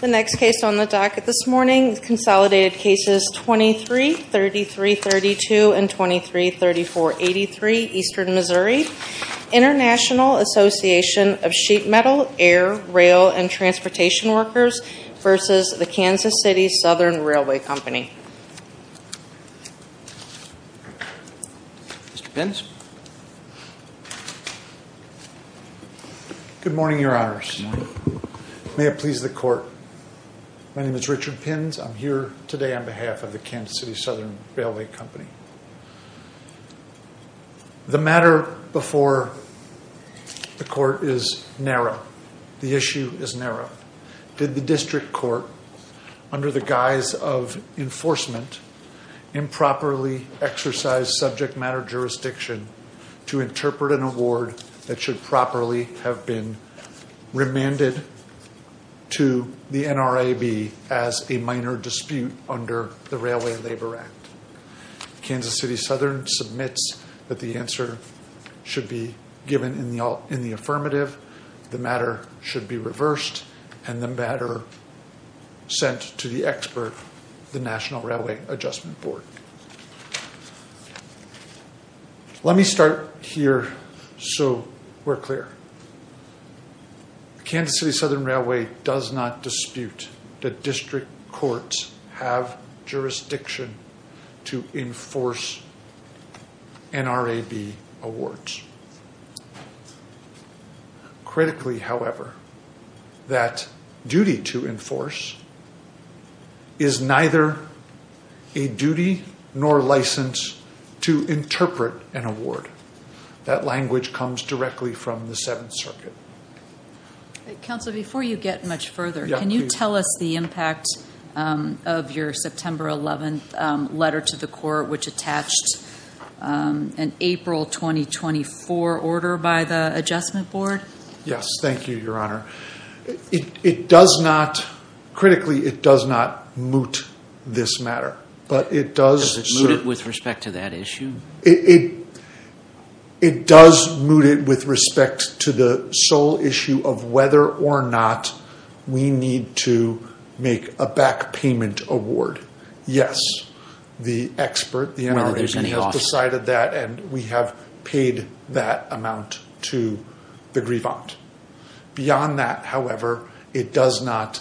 The next case on the docket this morning, Consolidated Cases 23-3332 and 23-3483 Eastern Missouri, International Association of Sheet Metal, Air, Rail, and Transportation Workers v. K.C. Southern Railway Company Richard Pins, K.C. Southern Railway Company The matter before the Court is narrow. The enforcement improperly exercised subject matter jurisdiction to interpret an award that should properly have been remanded to the NRAB as a minor dispute under the Railway Labor Act. K.C. Southern submits that the answer should be given in the affirmative, the matter should be reversed, and the matter sent to the expert, the National Railway Adjustment Board. Let me start here so we're clear. K.C. Southern Railway does not dispute that district Critically, however, that duty to enforce is neither a duty nor license to interpret an award. That language comes directly from the Seventh Circuit. Counsel, before you get much further, can you tell us the impact of your September 11th letter to the Court which attached an April 2024 order by the Adjustment Board? Yes, thank you, Your Honor. Critically, it does not moot this matter, but it does Does it moot it with respect to that issue? It does moot it with respect to the sole issue of whether or not we need to make a back payment award. Yes, the expert, the NRAB, has decided that and we have paid that amount to the grievant. Beyond that, however, it does not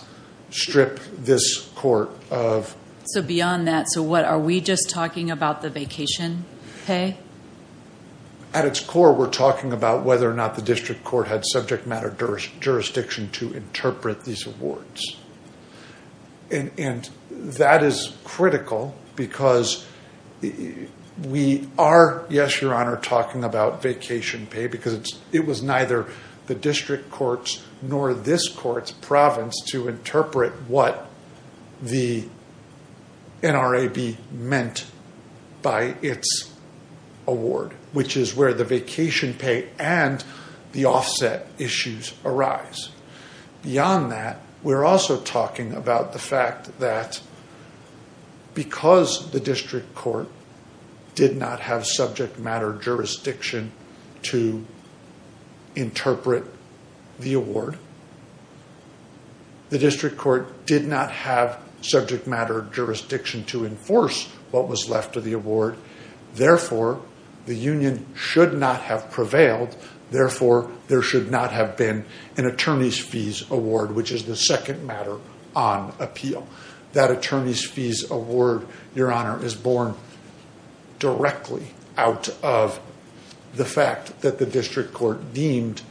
strip this Court of So beyond that, so what, are we just talking about the vacation pay? At its core, we're talking about whether or not the district court had subject matter jurisdiction to interpret these awards. And that is critical because we are, yes, Your Honor, talking about vacation pay because it was neither the district courts nor this court's province to interpret what the NRAB meant by its award, which is where the vacation pay and the offset issues arise. Beyond that, we're also talking about the fact that because the district court did not have subject matter jurisdiction to interpret the award, the district court did not have subject matter jurisdiction to enforce what was left of the award. Therefore, the Union should not have prevailed. Therefore, there should not have been an attorney's fees award, which is the second matter on appeal. That attorney's fees award, Your Honor, is born directly out of the fact that the district court deemed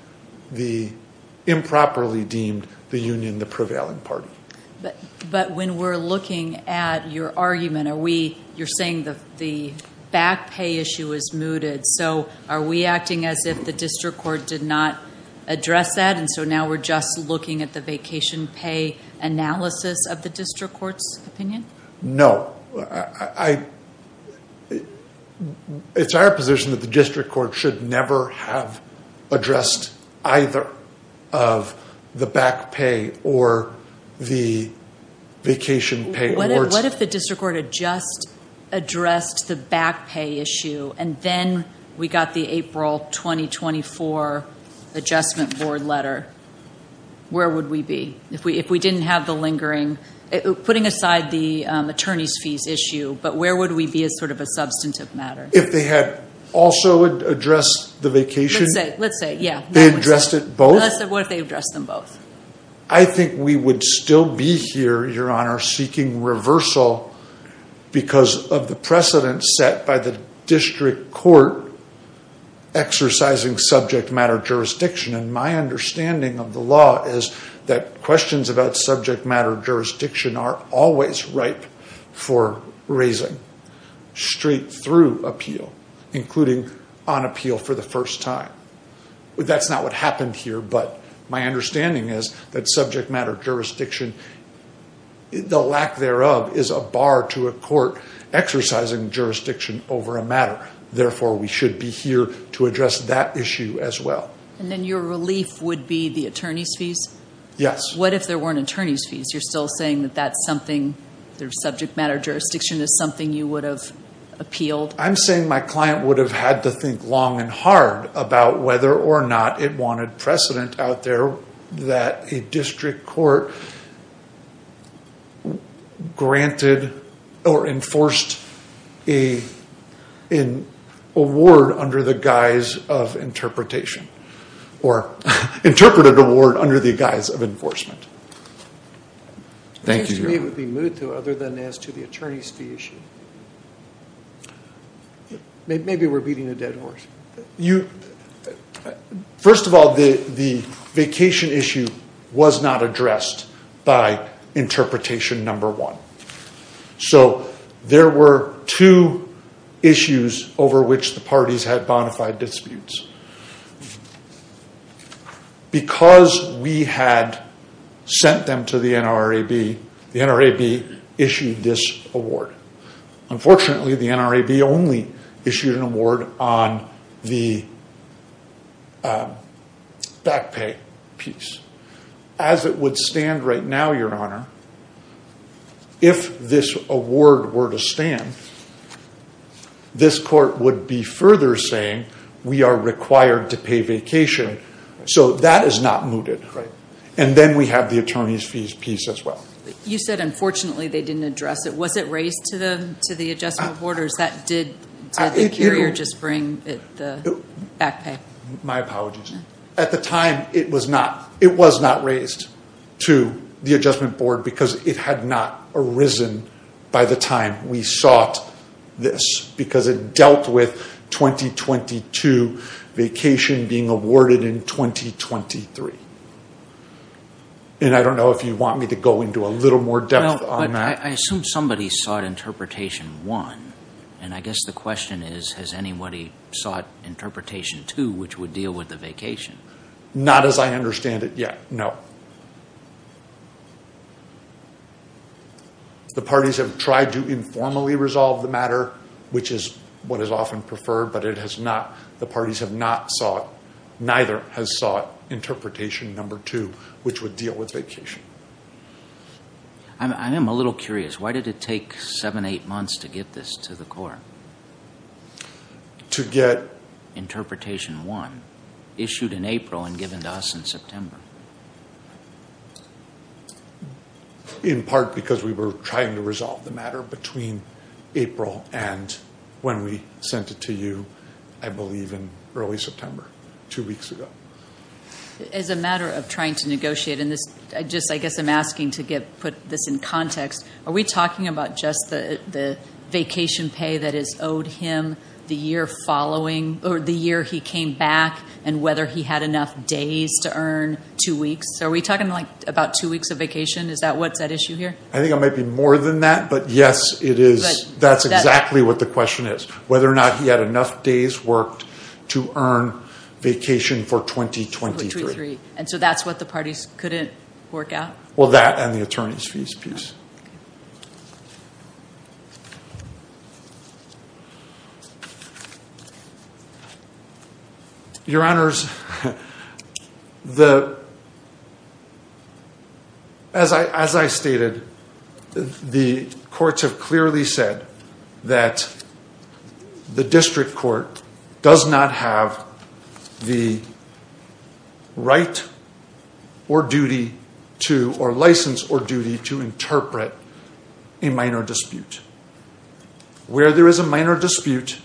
the improperly deemed the Union the prevailing party. But when we're looking at your argument, you're saying the back pay issue is mooted. So are we acting as if the district court did not address that? And so now we're just looking at the vacation pay analysis of the district court's opinion? No. It's our position that the district court should never have addressed either the back pay or the vacation pay awards. What if the district court had just addressed the back pay issue and then we got the April 2024 adjustment board letter? Where would we be if we didn't have the lingering, putting aside the attorney's fees issue, but where would we be as sort of a substantive matter? If they had also addressed the vacation? Let's say, yeah. They addressed it both? That's what they addressed them both. I think we would still be here, Your Honor, seeking reversal because of the precedent set by the district court exercising subject matter jurisdiction. And my understanding of the law is that questions about subject matter jurisdiction are always ripe for raising straight through appeal, including on appeal for the first time. That's not what happened here, but my understanding is that subject matter jurisdiction, the lack thereof is a bar to a court exercising jurisdiction over a matter. Therefore, we should be here to address that issue as well. And then your relief would be the attorney's fees? Yes. What if there weren't attorney's fees? You're still saying that that's something, their subject matter jurisdiction is something you would have appealed? I'm saying my client would have had to think long and hard about whether or not it wanted precedent out there that a district court granted or enforced an award under the guise of interpretation, or interpreted award under the guise of enforcement. Thank you, Your Honor. Other than as to the attorney's fee issue? Maybe we're beating a dead horse. First of all, the vacation issue was not addressed by interpretation number one. So there were two issues over which the parties had bonafide disputes. Because we had sent them to the NRAB, the NRAB issued this award. Unfortunately, the NRAB only issued an award on the back pay piece. As it would stand right now, Your Honor, if this award were to stand, this court would be further saying we are required to pay vacation. So that is not mooted. And then we have the attorney's fees piece as well. You said, unfortunately, they didn't address it. Was it raised to the adjustment board or did the carrier just bring the back pay? My apologies. At the time, it was not raised to the adjustment board because it had not arisen by the time we sought this because it dealt with 2022 vacation being awarded in 2023. And I don't know if you want me to go into a little more depth on that. I assume somebody sought interpretation one. And I guess the question is, has anybody sought interpretation two, which would deal with the vacation? Not as I understand it yet, no. The parties have tried to informally resolve the matter, which is what is often preferred, but it has not, the parties have not sought, neither has sought interpretation number two, which would deal with vacation. I am a little curious. Why did it take seven, eight months to get this to the court? To get interpretation one issued in April and given to us in September. In part, because we were trying to resolve the matter between April and when we sent it to you, I believe in early September, two weeks ago. As a matter of trying to negotiate in this, I guess I'm asking to get put this in context. Are we talking about just the vacation pay that is owed him the year following or the year he came back and whether he had enough days to earn two weeks? Are we talking about two weeks of vacation? Is that what's at issue here? I think it might be more than that. But yes, it is. That's exactly what the question is. Whether or not he had enough days worked to earn vacation for 2023. And so that's what the parties couldn't work out? Well, that and the attorney's fees piece. Your honors, as I stated, the courts have clearly said that the district court does not have the right or duty to or license or duty to interpret a minor dispute. Where there is a minor dispute,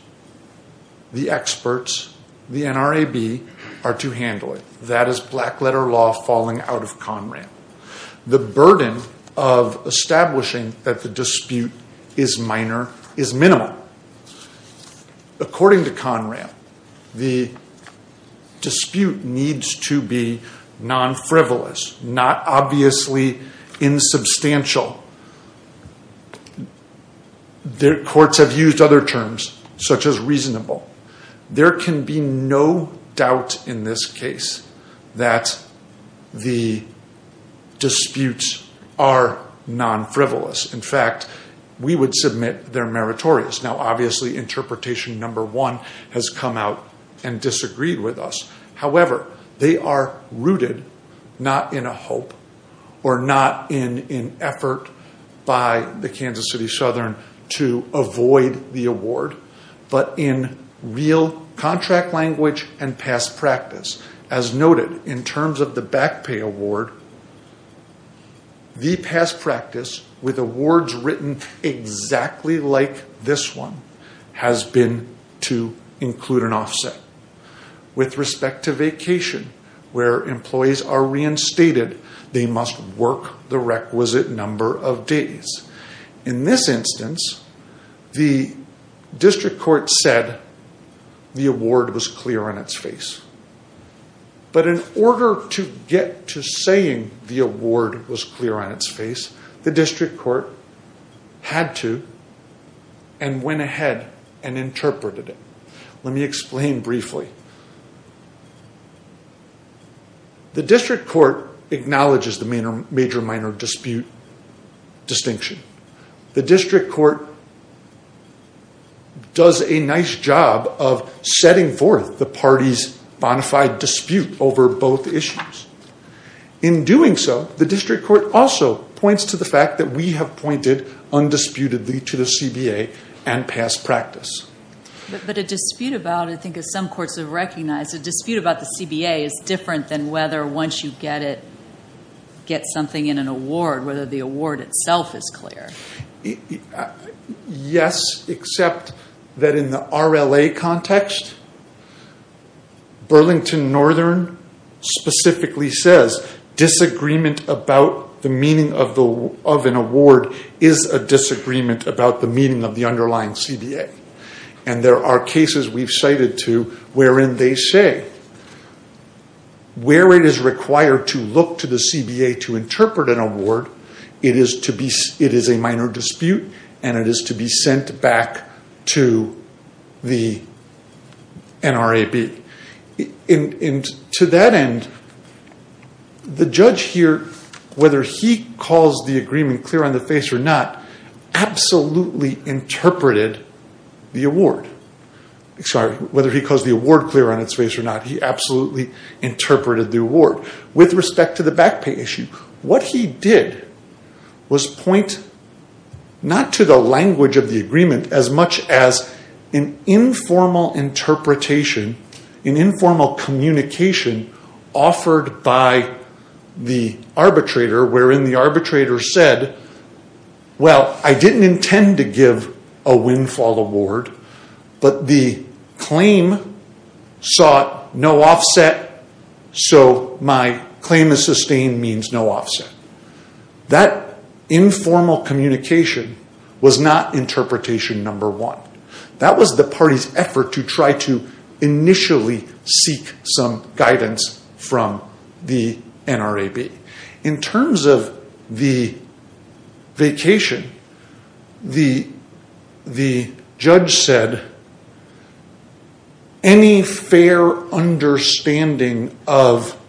the experts, the NRAB are to handle it. That is black letter law falling out of ConRAM. The burden of establishing that the dispute is minor is minimal. Now, according to ConRAM, the dispute needs to be non-frivolous, not obviously insubstantial. Courts have used other terms such as reasonable. There can be no doubt in this case that the disputes are non-frivolous. In fact, we would submit they're meritorious. Interpretation number one has come out and disagreed with us. However, they are rooted not in a hope or not in an effort by the Kansas City Southern to avoid the award, but in real contract language and past practice. As noted, in terms of the back pay award, the past practice with awards written exactly like this one has been to include an offset. With respect to vacation, where employees are reinstated, they must work the requisite number of days. In this instance, the district court said the award was clear on its face. But in order to get to saying the award was clear on its face, the district court had to and went ahead and interpreted it. Let me explain briefly. The district court acknowledges the major-minor dispute distinction. Distinction. The district court does a nice job of setting forth the party's bonafide dispute over both issues. In doing so, the district court also points to the fact that we have pointed undisputedly to the CBA and past practice. But a dispute about, I think as some courts have recognized, a dispute about the CBA is different than whether once you get it, get something in an award, whether the award itself is clear. Yes, except that in the RLA context, Burlington Northern specifically says disagreement about the meaning of an award is a disagreement about the meaning of the underlying CBA. There are cases we've cited to wherein they say where it is required to look to the CBA to interpret an award, it is a minor dispute and it is to be sent back to the NRAB. To that end, the judge here, whether he calls the agreement clear on the face or not, absolutely interpreted the award. Sorry, whether he calls the award clear on its face or not. He absolutely interpreted the award. With respect to the back pay issue, what he did was point not to the language of the agreement as much as an informal interpretation, an informal communication offered by the arbitrator, wherein the arbitrator said, well, I didn't intend to give a windfall award, but the claim sought no offset, so my claim is sustained means no offset. That informal communication was not interpretation number one. That was the party's effort to try to initially seek some guidance from the NRAB. In terms of the vacation, the judge said, any fair understanding of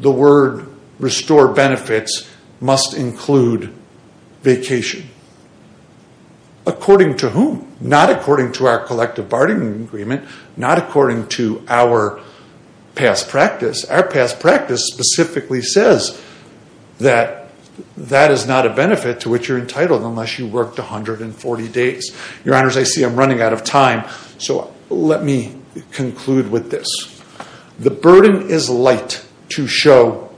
the word restore benefits must include vacation. According to whom? Not according to our collective bargaining agreement, not according to our past practice. Our past practice specifically says that that is not a benefit to which you're entitled unless you worked 140 days. Your honors, I see I'm running out of time, so let me conclude with this. The burden is light to show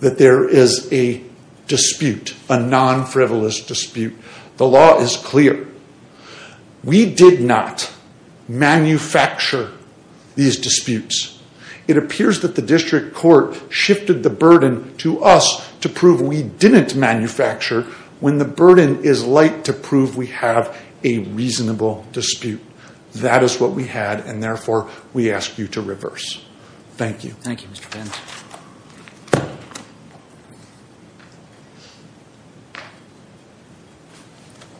that there is a dispute, a non-frivolous dispute. The law is clear. We did not manufacture these disputes. It appears that the district court shifted the burden to us to prove we didn't manufacture when the burden is light to prove we have a reasonable dispute. That is what we had, and therefore, we ask you to reverse. Thank you. Thank you, Mr. Vance.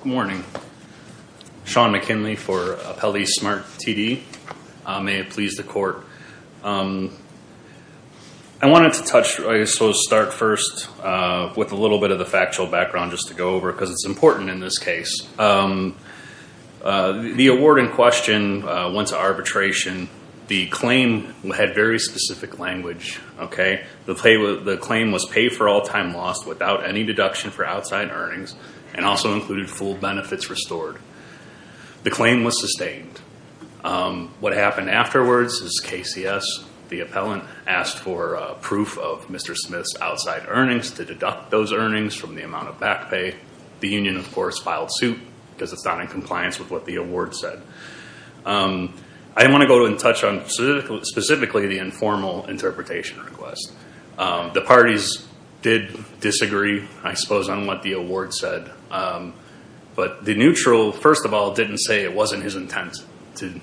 Good morning. Sean McKinley for Appellee Smart TD. May it please the court. I wanted to start first with a little bit of the factual background just to go over because it's important in this case. The award in question went to arbitration. The claim had very specific language. The claim was paid for all time lost without any deduction for outside earnings and also included full benefits restored. The claim was sustained. What happened afterwards is KCS, the appellant, asked for proof of Mr. Smith's outside earnings to deduct those earnings from the amount of back pay. The union, of course, filed suit because it's not in compliance with what the award said. I want to go in touch on specifically the informal interpretation request. The parties did disagree, I suppose, on what the award said, but the neutral, first of all, didn't say it wasn't his intent to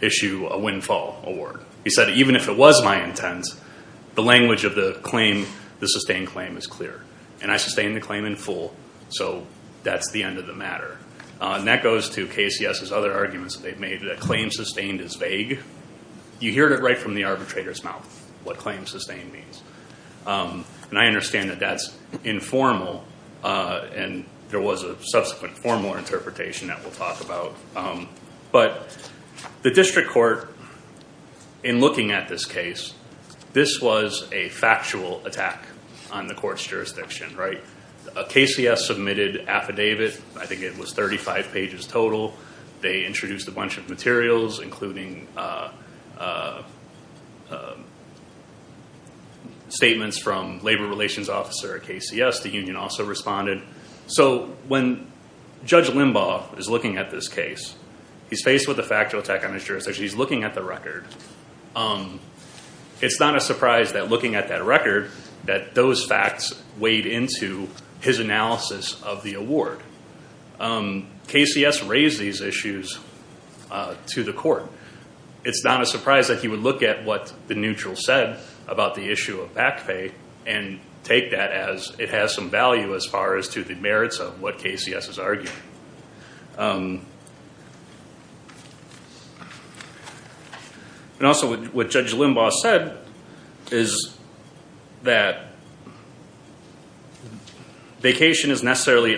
issue a windfall award. He said, even if it was my intent, the language of the claim, the sustained claim is clear. I sustained the claim in full, so that's the end of the matter. That goes to KCS's other arguments that they've made, that claim sustained is vague. You hear it right from the arbitrator's mouth, what claim sustained means. And I understand that that's informal and there was a subsequent formal interpretation that we'll talk about, but the district court, in looking at this case, this was a factual attack on the court's jurisdiction, right? A KCS submitted affidavit. I think it was 35 pages total. They introduced a bunch of materials, including statements from labor relations officer at KCS. The union also responded. So when Judge Limbaugh is looking at this case, he's faced with a factual attack on his jurisdiction, he's looking at the record. It's not a surprise that looking at that record, that those facts weighed into his analysis of the award. KCS raised these issues to the court. It's not a surprise that he would look at what the neutral said about the issue of back pay and take that as it has some value as far as to the merits of what KCS is arguing. And also what Judge Limbaugh said is that vacation is necessarily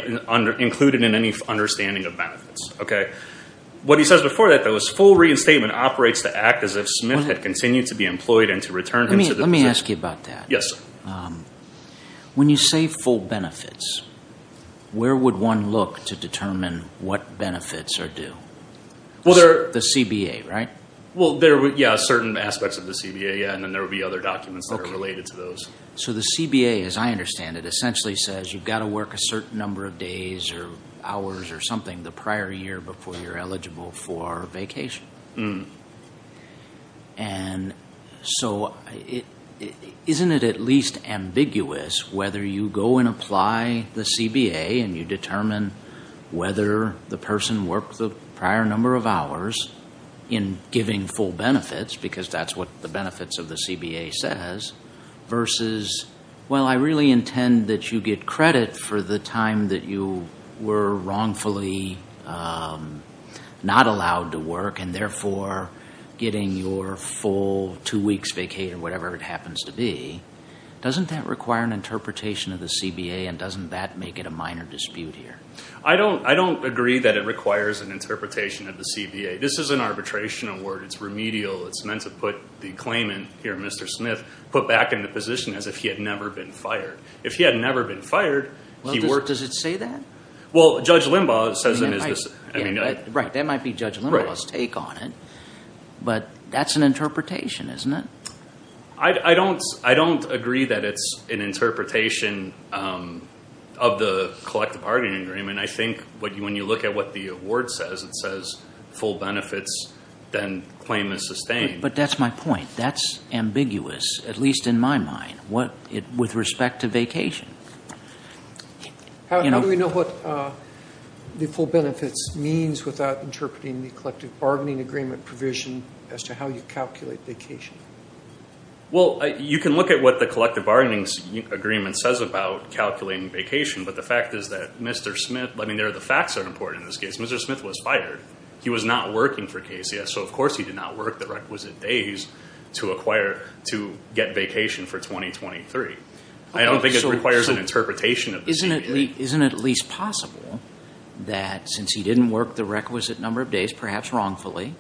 included in any understanding of benefits, okay? What he says before that, though, is full reinstatement operates to act as if Smith had continued to be employed and to return him to the- Let me ask you about that. Yes, sir. When you say full benefits, where would one look to determine what benefits are due? Well, there- The CBA, right? Well, there were, yeah, certain aspects of the CBA, yeah, and then there would be other documents that are related to those. So the CBA, as I understand it, essentially says you've got to work a certain number of days or hours or something the prior year before you're eligible for vacation. And so isn't it at least ambiguous whether you go and apply the CBA and you determine whether the person worked the prior number of hours in giving full benefits, because that's what the benefits of the CBA says, versus, well, I really intend that you get credit for the time that you were wrongfully not allowed to work and therefore getting your full two weeks vacated, whatever it happens to be. Doesn't that require an interpretation of the CBA and doesn't that make it a minor dispute here? I don't agree that it requires an interpretation of the CBA. This is an arbitration award. It's remedial. It's meant to put the claimant here, Mr. Smith, put back in the position as if he had never been fired. If he had never been fired, he worked. Does it say that? Well, Judge Limbaugh says it is. Right. That might be Judge Limbaugh's take on it, but that's an interpretation, isn't it? I don't agree that it's an interpretation of the collective bargaining agreement. I think when you look at what the award says, it says full benefits, then claim is sustained. But that's my point. That's ambiguous, at least in my mind, with respect to vacation. How do we know what the full benefits means without interpreting the collective bargaining agreement provision as to how you calculate vacation? Well, you can look at what the collective bargaining agreement says about calculating vacation, but the fact is that Mr. Smith, I mean, the facts are important in this case. Mr. Smith was fired. He was not working for KCS, so of course he did not work the requisite days to get vacation for 2023. I don't think it requires an interpretation of the CBA. Isn't it at least possible that since he didn't work the requisite number of days, perhaps wrongfully,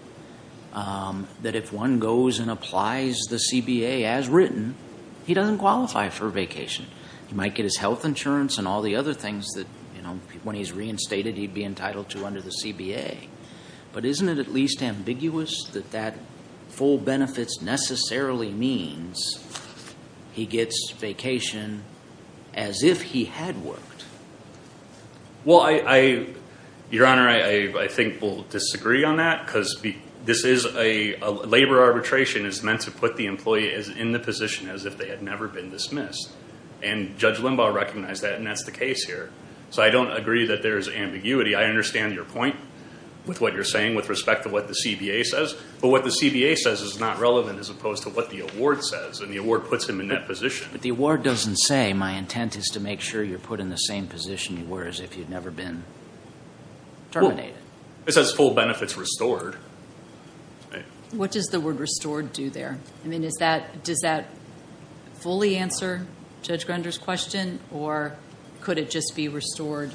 that if one goes and applies the CBA as written, he doesn't qualify for vacation? He might get his health insurance and all the other things that when he's reinstated, he'd be entitled to under the CBA. But isn't it at least ambiguous that that full benefits necessarily means he gets vacation as if he had worked? Well, Your Honor, I think we'll disagree on that because labor arbitration is meant to put the employee in the position as if they had never been dismissed, and Judge Limbaugh recognized that, and that's the case here. So I don't agree that there's ambiguity. I understand your point with what you're saying with respect to what the CBA says, but what the CBA says is not relevant as opposed to what the award says, and the award puts him in that position. But the award doesn't say, my intent is to make sure you're put in the same position you were as if you'd never been terminated. It says full benefits restored. What does the word restored do there? Does that fully answer Judge Grunder's question, or could it just be restored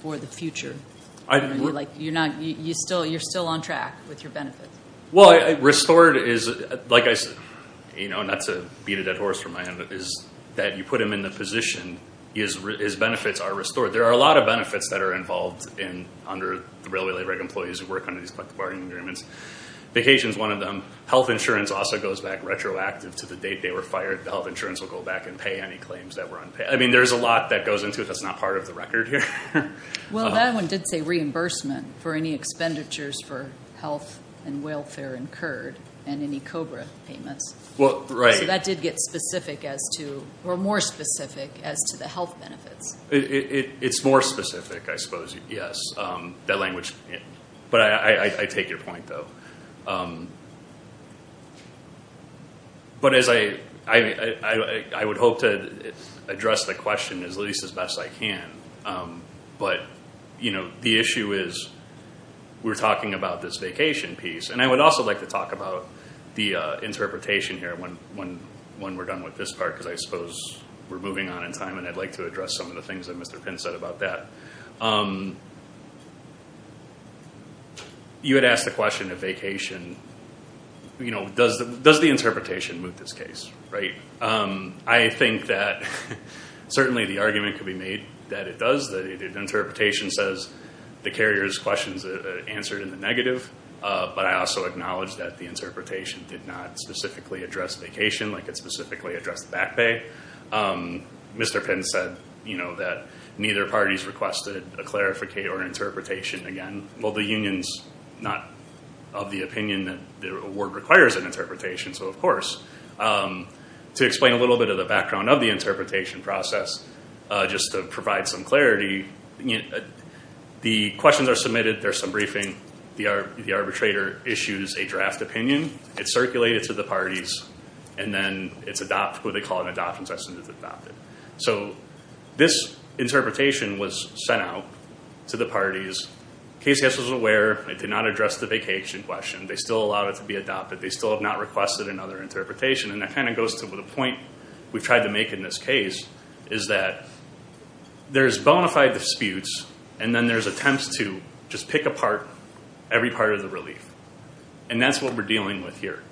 for the future? You're still on track with your benefits. Well, restored is, not to beat a dead horse from my end, but is that you put him in the position, his benefits are restored. There are a lot of benefits that are involved under the Railway Labor Act employees who work under these collective bargaining agreements. Vacation is one of them. Health insurance also goes back retroactive to the date they were fired. The health insurance will go back and pay any claims that were unpaid. I mean, there's a lot that goes into it that's not part of the record here. Well, that one did say reimbursement for any expenditures for health and welfare incurred and any COBRA payments. Well, right. So that did get specific as to, or more specific as to the health benefits. It's more specific, I suppose, yes. That language, but I take your point though. But as I would hope to address the question as least as best I can, but the issue is we're talking about this vacation piece. And I would also like to talk about the interpretation here when we're done with this part because I suppose we're moving on in time and I'd like to address some of the things that Mr. Pinn said about that. You had asked the question of vacation. Does the interpretation move this case? I think that certainly the argument could be made that it does. That the interpretation says the carrier's questions answered in the negative, but I also acknowledge that the interpretation did not specifically address vacation like it specifically addressed back pay. Mr. Pinn said that neither parties requested a clarificate or interpretation again. Well, the union's not of the opinion that the award requires an interpretation. So of course, to explain a little bit of the background of the interpretation process, just to provide some clarity, the questions are submitted. There's some briefing. The arbitrator issues a draft opinion. It's circulated to the parties and then it's adopted, what they call an adoption session is adopted. So this interpretation was sent out to the parties. KCS was aware. It did not address the vacation question. They still allowed it to be adopted. They still have not requested another interpretation. And that kind of goes to the point we've tried to make in this case is that there's bona fide disputes and then there's attempts to just pick apart every part of the relief. And that's what we're dealing with here,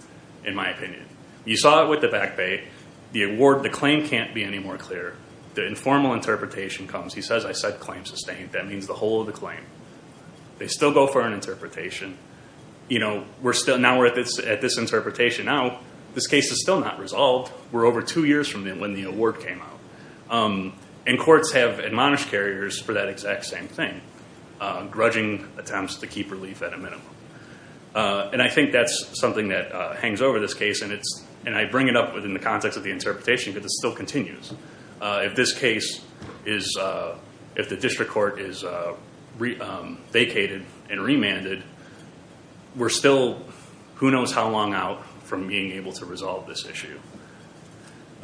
in my opinion. You saw it with the back pay. The award, the claim can't be any more clear. The informal interpretation comes. He says, I said claim sustained. That means the whole of the claim. They still go for an interpretation. Now we're at this interpretation. Now, this case is still not resolved. We're over two years from when the award came out. And courts have admonished carriers for that exact same thing, grudging attempts to keep relief at a minimum. And I think that's something that hangs over this case. And I bring it up within the context of the interpretation because it still continues. If this case is, if the district court is vacated and remanded, we're still who knows how long out from being able to resolve this issue.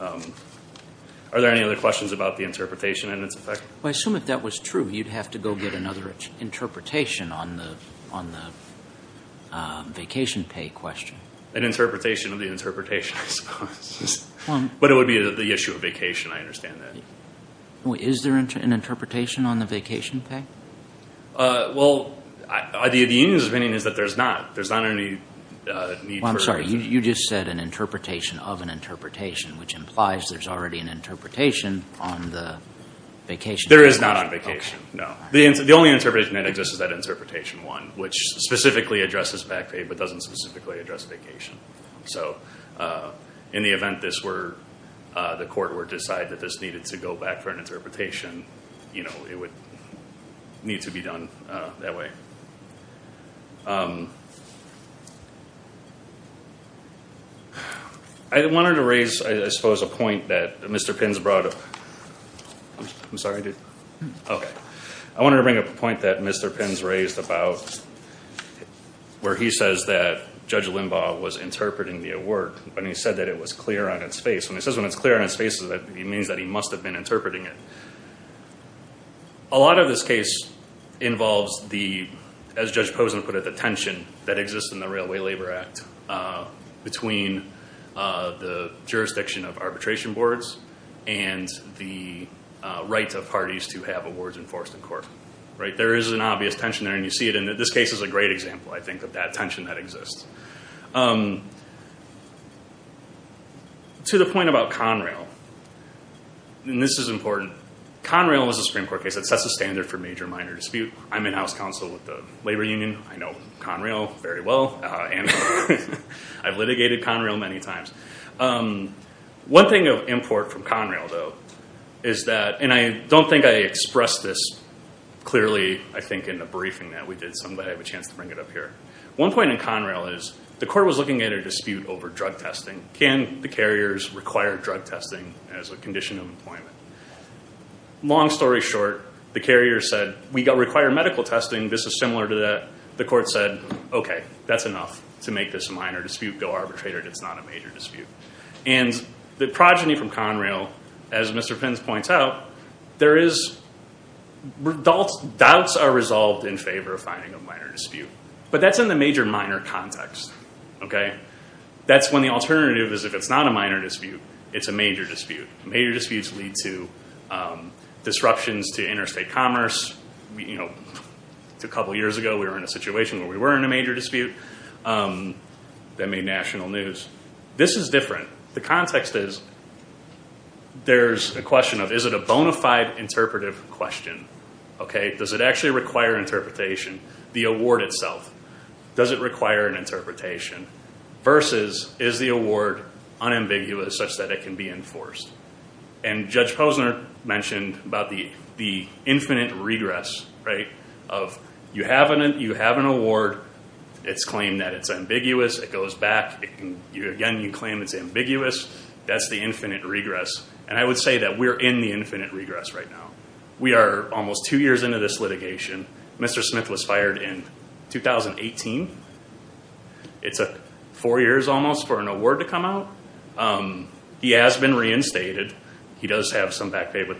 Are there any other questions about the interpretation and its effect? Well, I assume if that was true, you'd have to go get another interpretation on the vacation pay question. An interpretation of the interpretation, I suppose. But it would be the issue of vacation. I understand that. Is there an interpretation on the vacation pay? Well, the union's opinion is that there's not. There's not any need for it. Well, I'm sorry. You just said an interpretation of an interpretation, which implies there's already an interpretation on the vacation pay question. There is not on vacation. No. The only interpretation that exists is that interpretation one, which specifically addresses vac pay but doesn't specifically address vacation. So in the event this were, the court were to decide that this needed to go back for an interpretation, you know, it would need to be done that way. I wanted to raise, I suppose, a point that Mr. Pins brought up. I'm sorry, dude. Okay. I wanted to bring up a point that Mr. Pins raised about where he says that Judge Limbaugh was interpreting the award when he said that it was clear on its face. When he says when it's clear on its face, it means that he must have been interpreting it. A lot of this case involves the, as Judge Posen put it, the tension that exists in the Railway Labor Act between the jurisdiction of arbitration boards and the rights of parties to have awards enforced in court, right? There is an obvious tension there and you see it in this case is a great example, I think, of that tension that exists. To the point about Conrail, and this is important, Conrail was a Supreme Court case that sets a standard for major-minor dispute. I'm in-house counsel with the labor union. I know Conrail very well and I've litigated Conrail many times. One thing of import from Conrail, though, is that, and I don't think I expressed this clearly, I think, in the briefing that we did, but I have a chance to bring it up here. One point in Conrail is the court was looking at a dispute over drug testing. Can the carriers require drug testing as a condition of employment? Long story short, the carrier said, we require medical testing. This is similar to that. The court said, okay, that's enough to make this a minor dispute. Go arbitrate it. It's not a major dispute. The progeny from Conrail, as Mr. Pins points out, doubts are resolved in favor of finding a minor dispute, but that's in the major-minor context. That's when the alternative is if it's not a minor dispute, it's a major dispute. Major disputess lead to disruptions to interstate commerce. A couple years ago, we were in a situation where we were in a major dispute that made national news. This is different. The context is there's a question of is it a bona fide interpretive question? Does it actually require interpretation? The award itself, does it require an interpretation? Versus is the award unambiguous such that it can be enforced? Judge Posner mentioned about the infinite regress of you have an award, it's claimed that it's ambiguous, it goes back. Again, you claim it's ambiguous. That's the infinite regress. I would say that we're in the infinite regress right now. We are almost two years into this litigation. Mr. Smith was fired in 2018. It's four years almost for an award to come out. He has been reinstated. He does have some back pay, but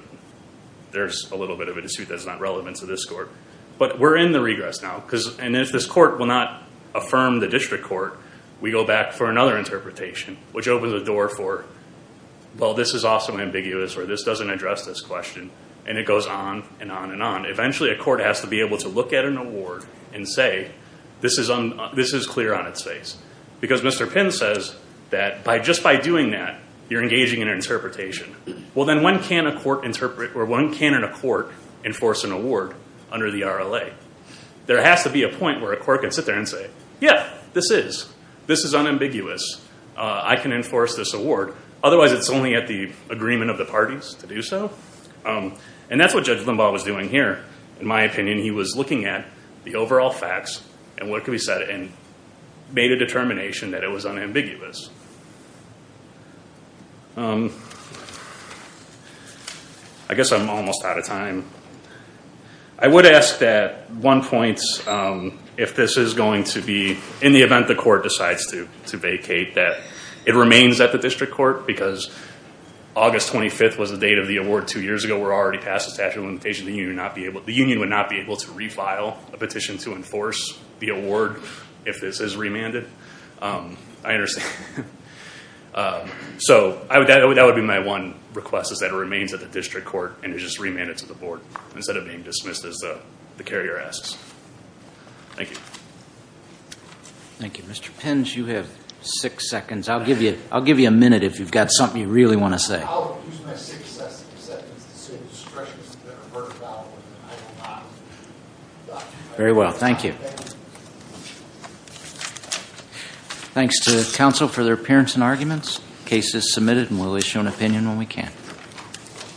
there's a little bit of a dispute that's not relevant to this court. But we're in the regress now. And if this court will not affirm the district court, we go back for another interpretation, which opens the door for, well, this is also ambiguous, or this doesn't address this question. And it goes on and on and on. Eventually, a court has to be able to look at an award and say, this is clear on its face. Because Mr. Pinn says that just by doing that, you're engaging in an interpretation. Well, then when can a court enforce an award under the RLA? There has to be a point where a court can sit there and say, yeah, this is unambiguous. I can enforce this award. Otherwise, it's only at the agreement of the parties to do so. And that's what Judge Limbaugh was doing here. In my opinion, he was looking at the overall facts and what could be said, and made a determination that it was unambiguous. I guess I'm almost out of time. I would ask that one point, if this is going to be, in the event the court decides to vacate, that it remains at the district court. Because August 25th was the date of the award two years ago. We're already past the statute of limitations. The union would not be able to refile a petition to enforce the award if this is remanded. I understand. So that would be my one request, is that it remains at the district court and is just remanded to the board, instead of being dismissed as the carrier asks. Thank you. Thank you, Mr. Pins. You have six seconds. I'll give you a minute if you've got something you really want to say. I'll use my six seconds to say the expressions that I've heard about. Very well, thank you. Thanks to counsel for their appearance and arguments. Case is submitted, and we'll issue an opinion when we can.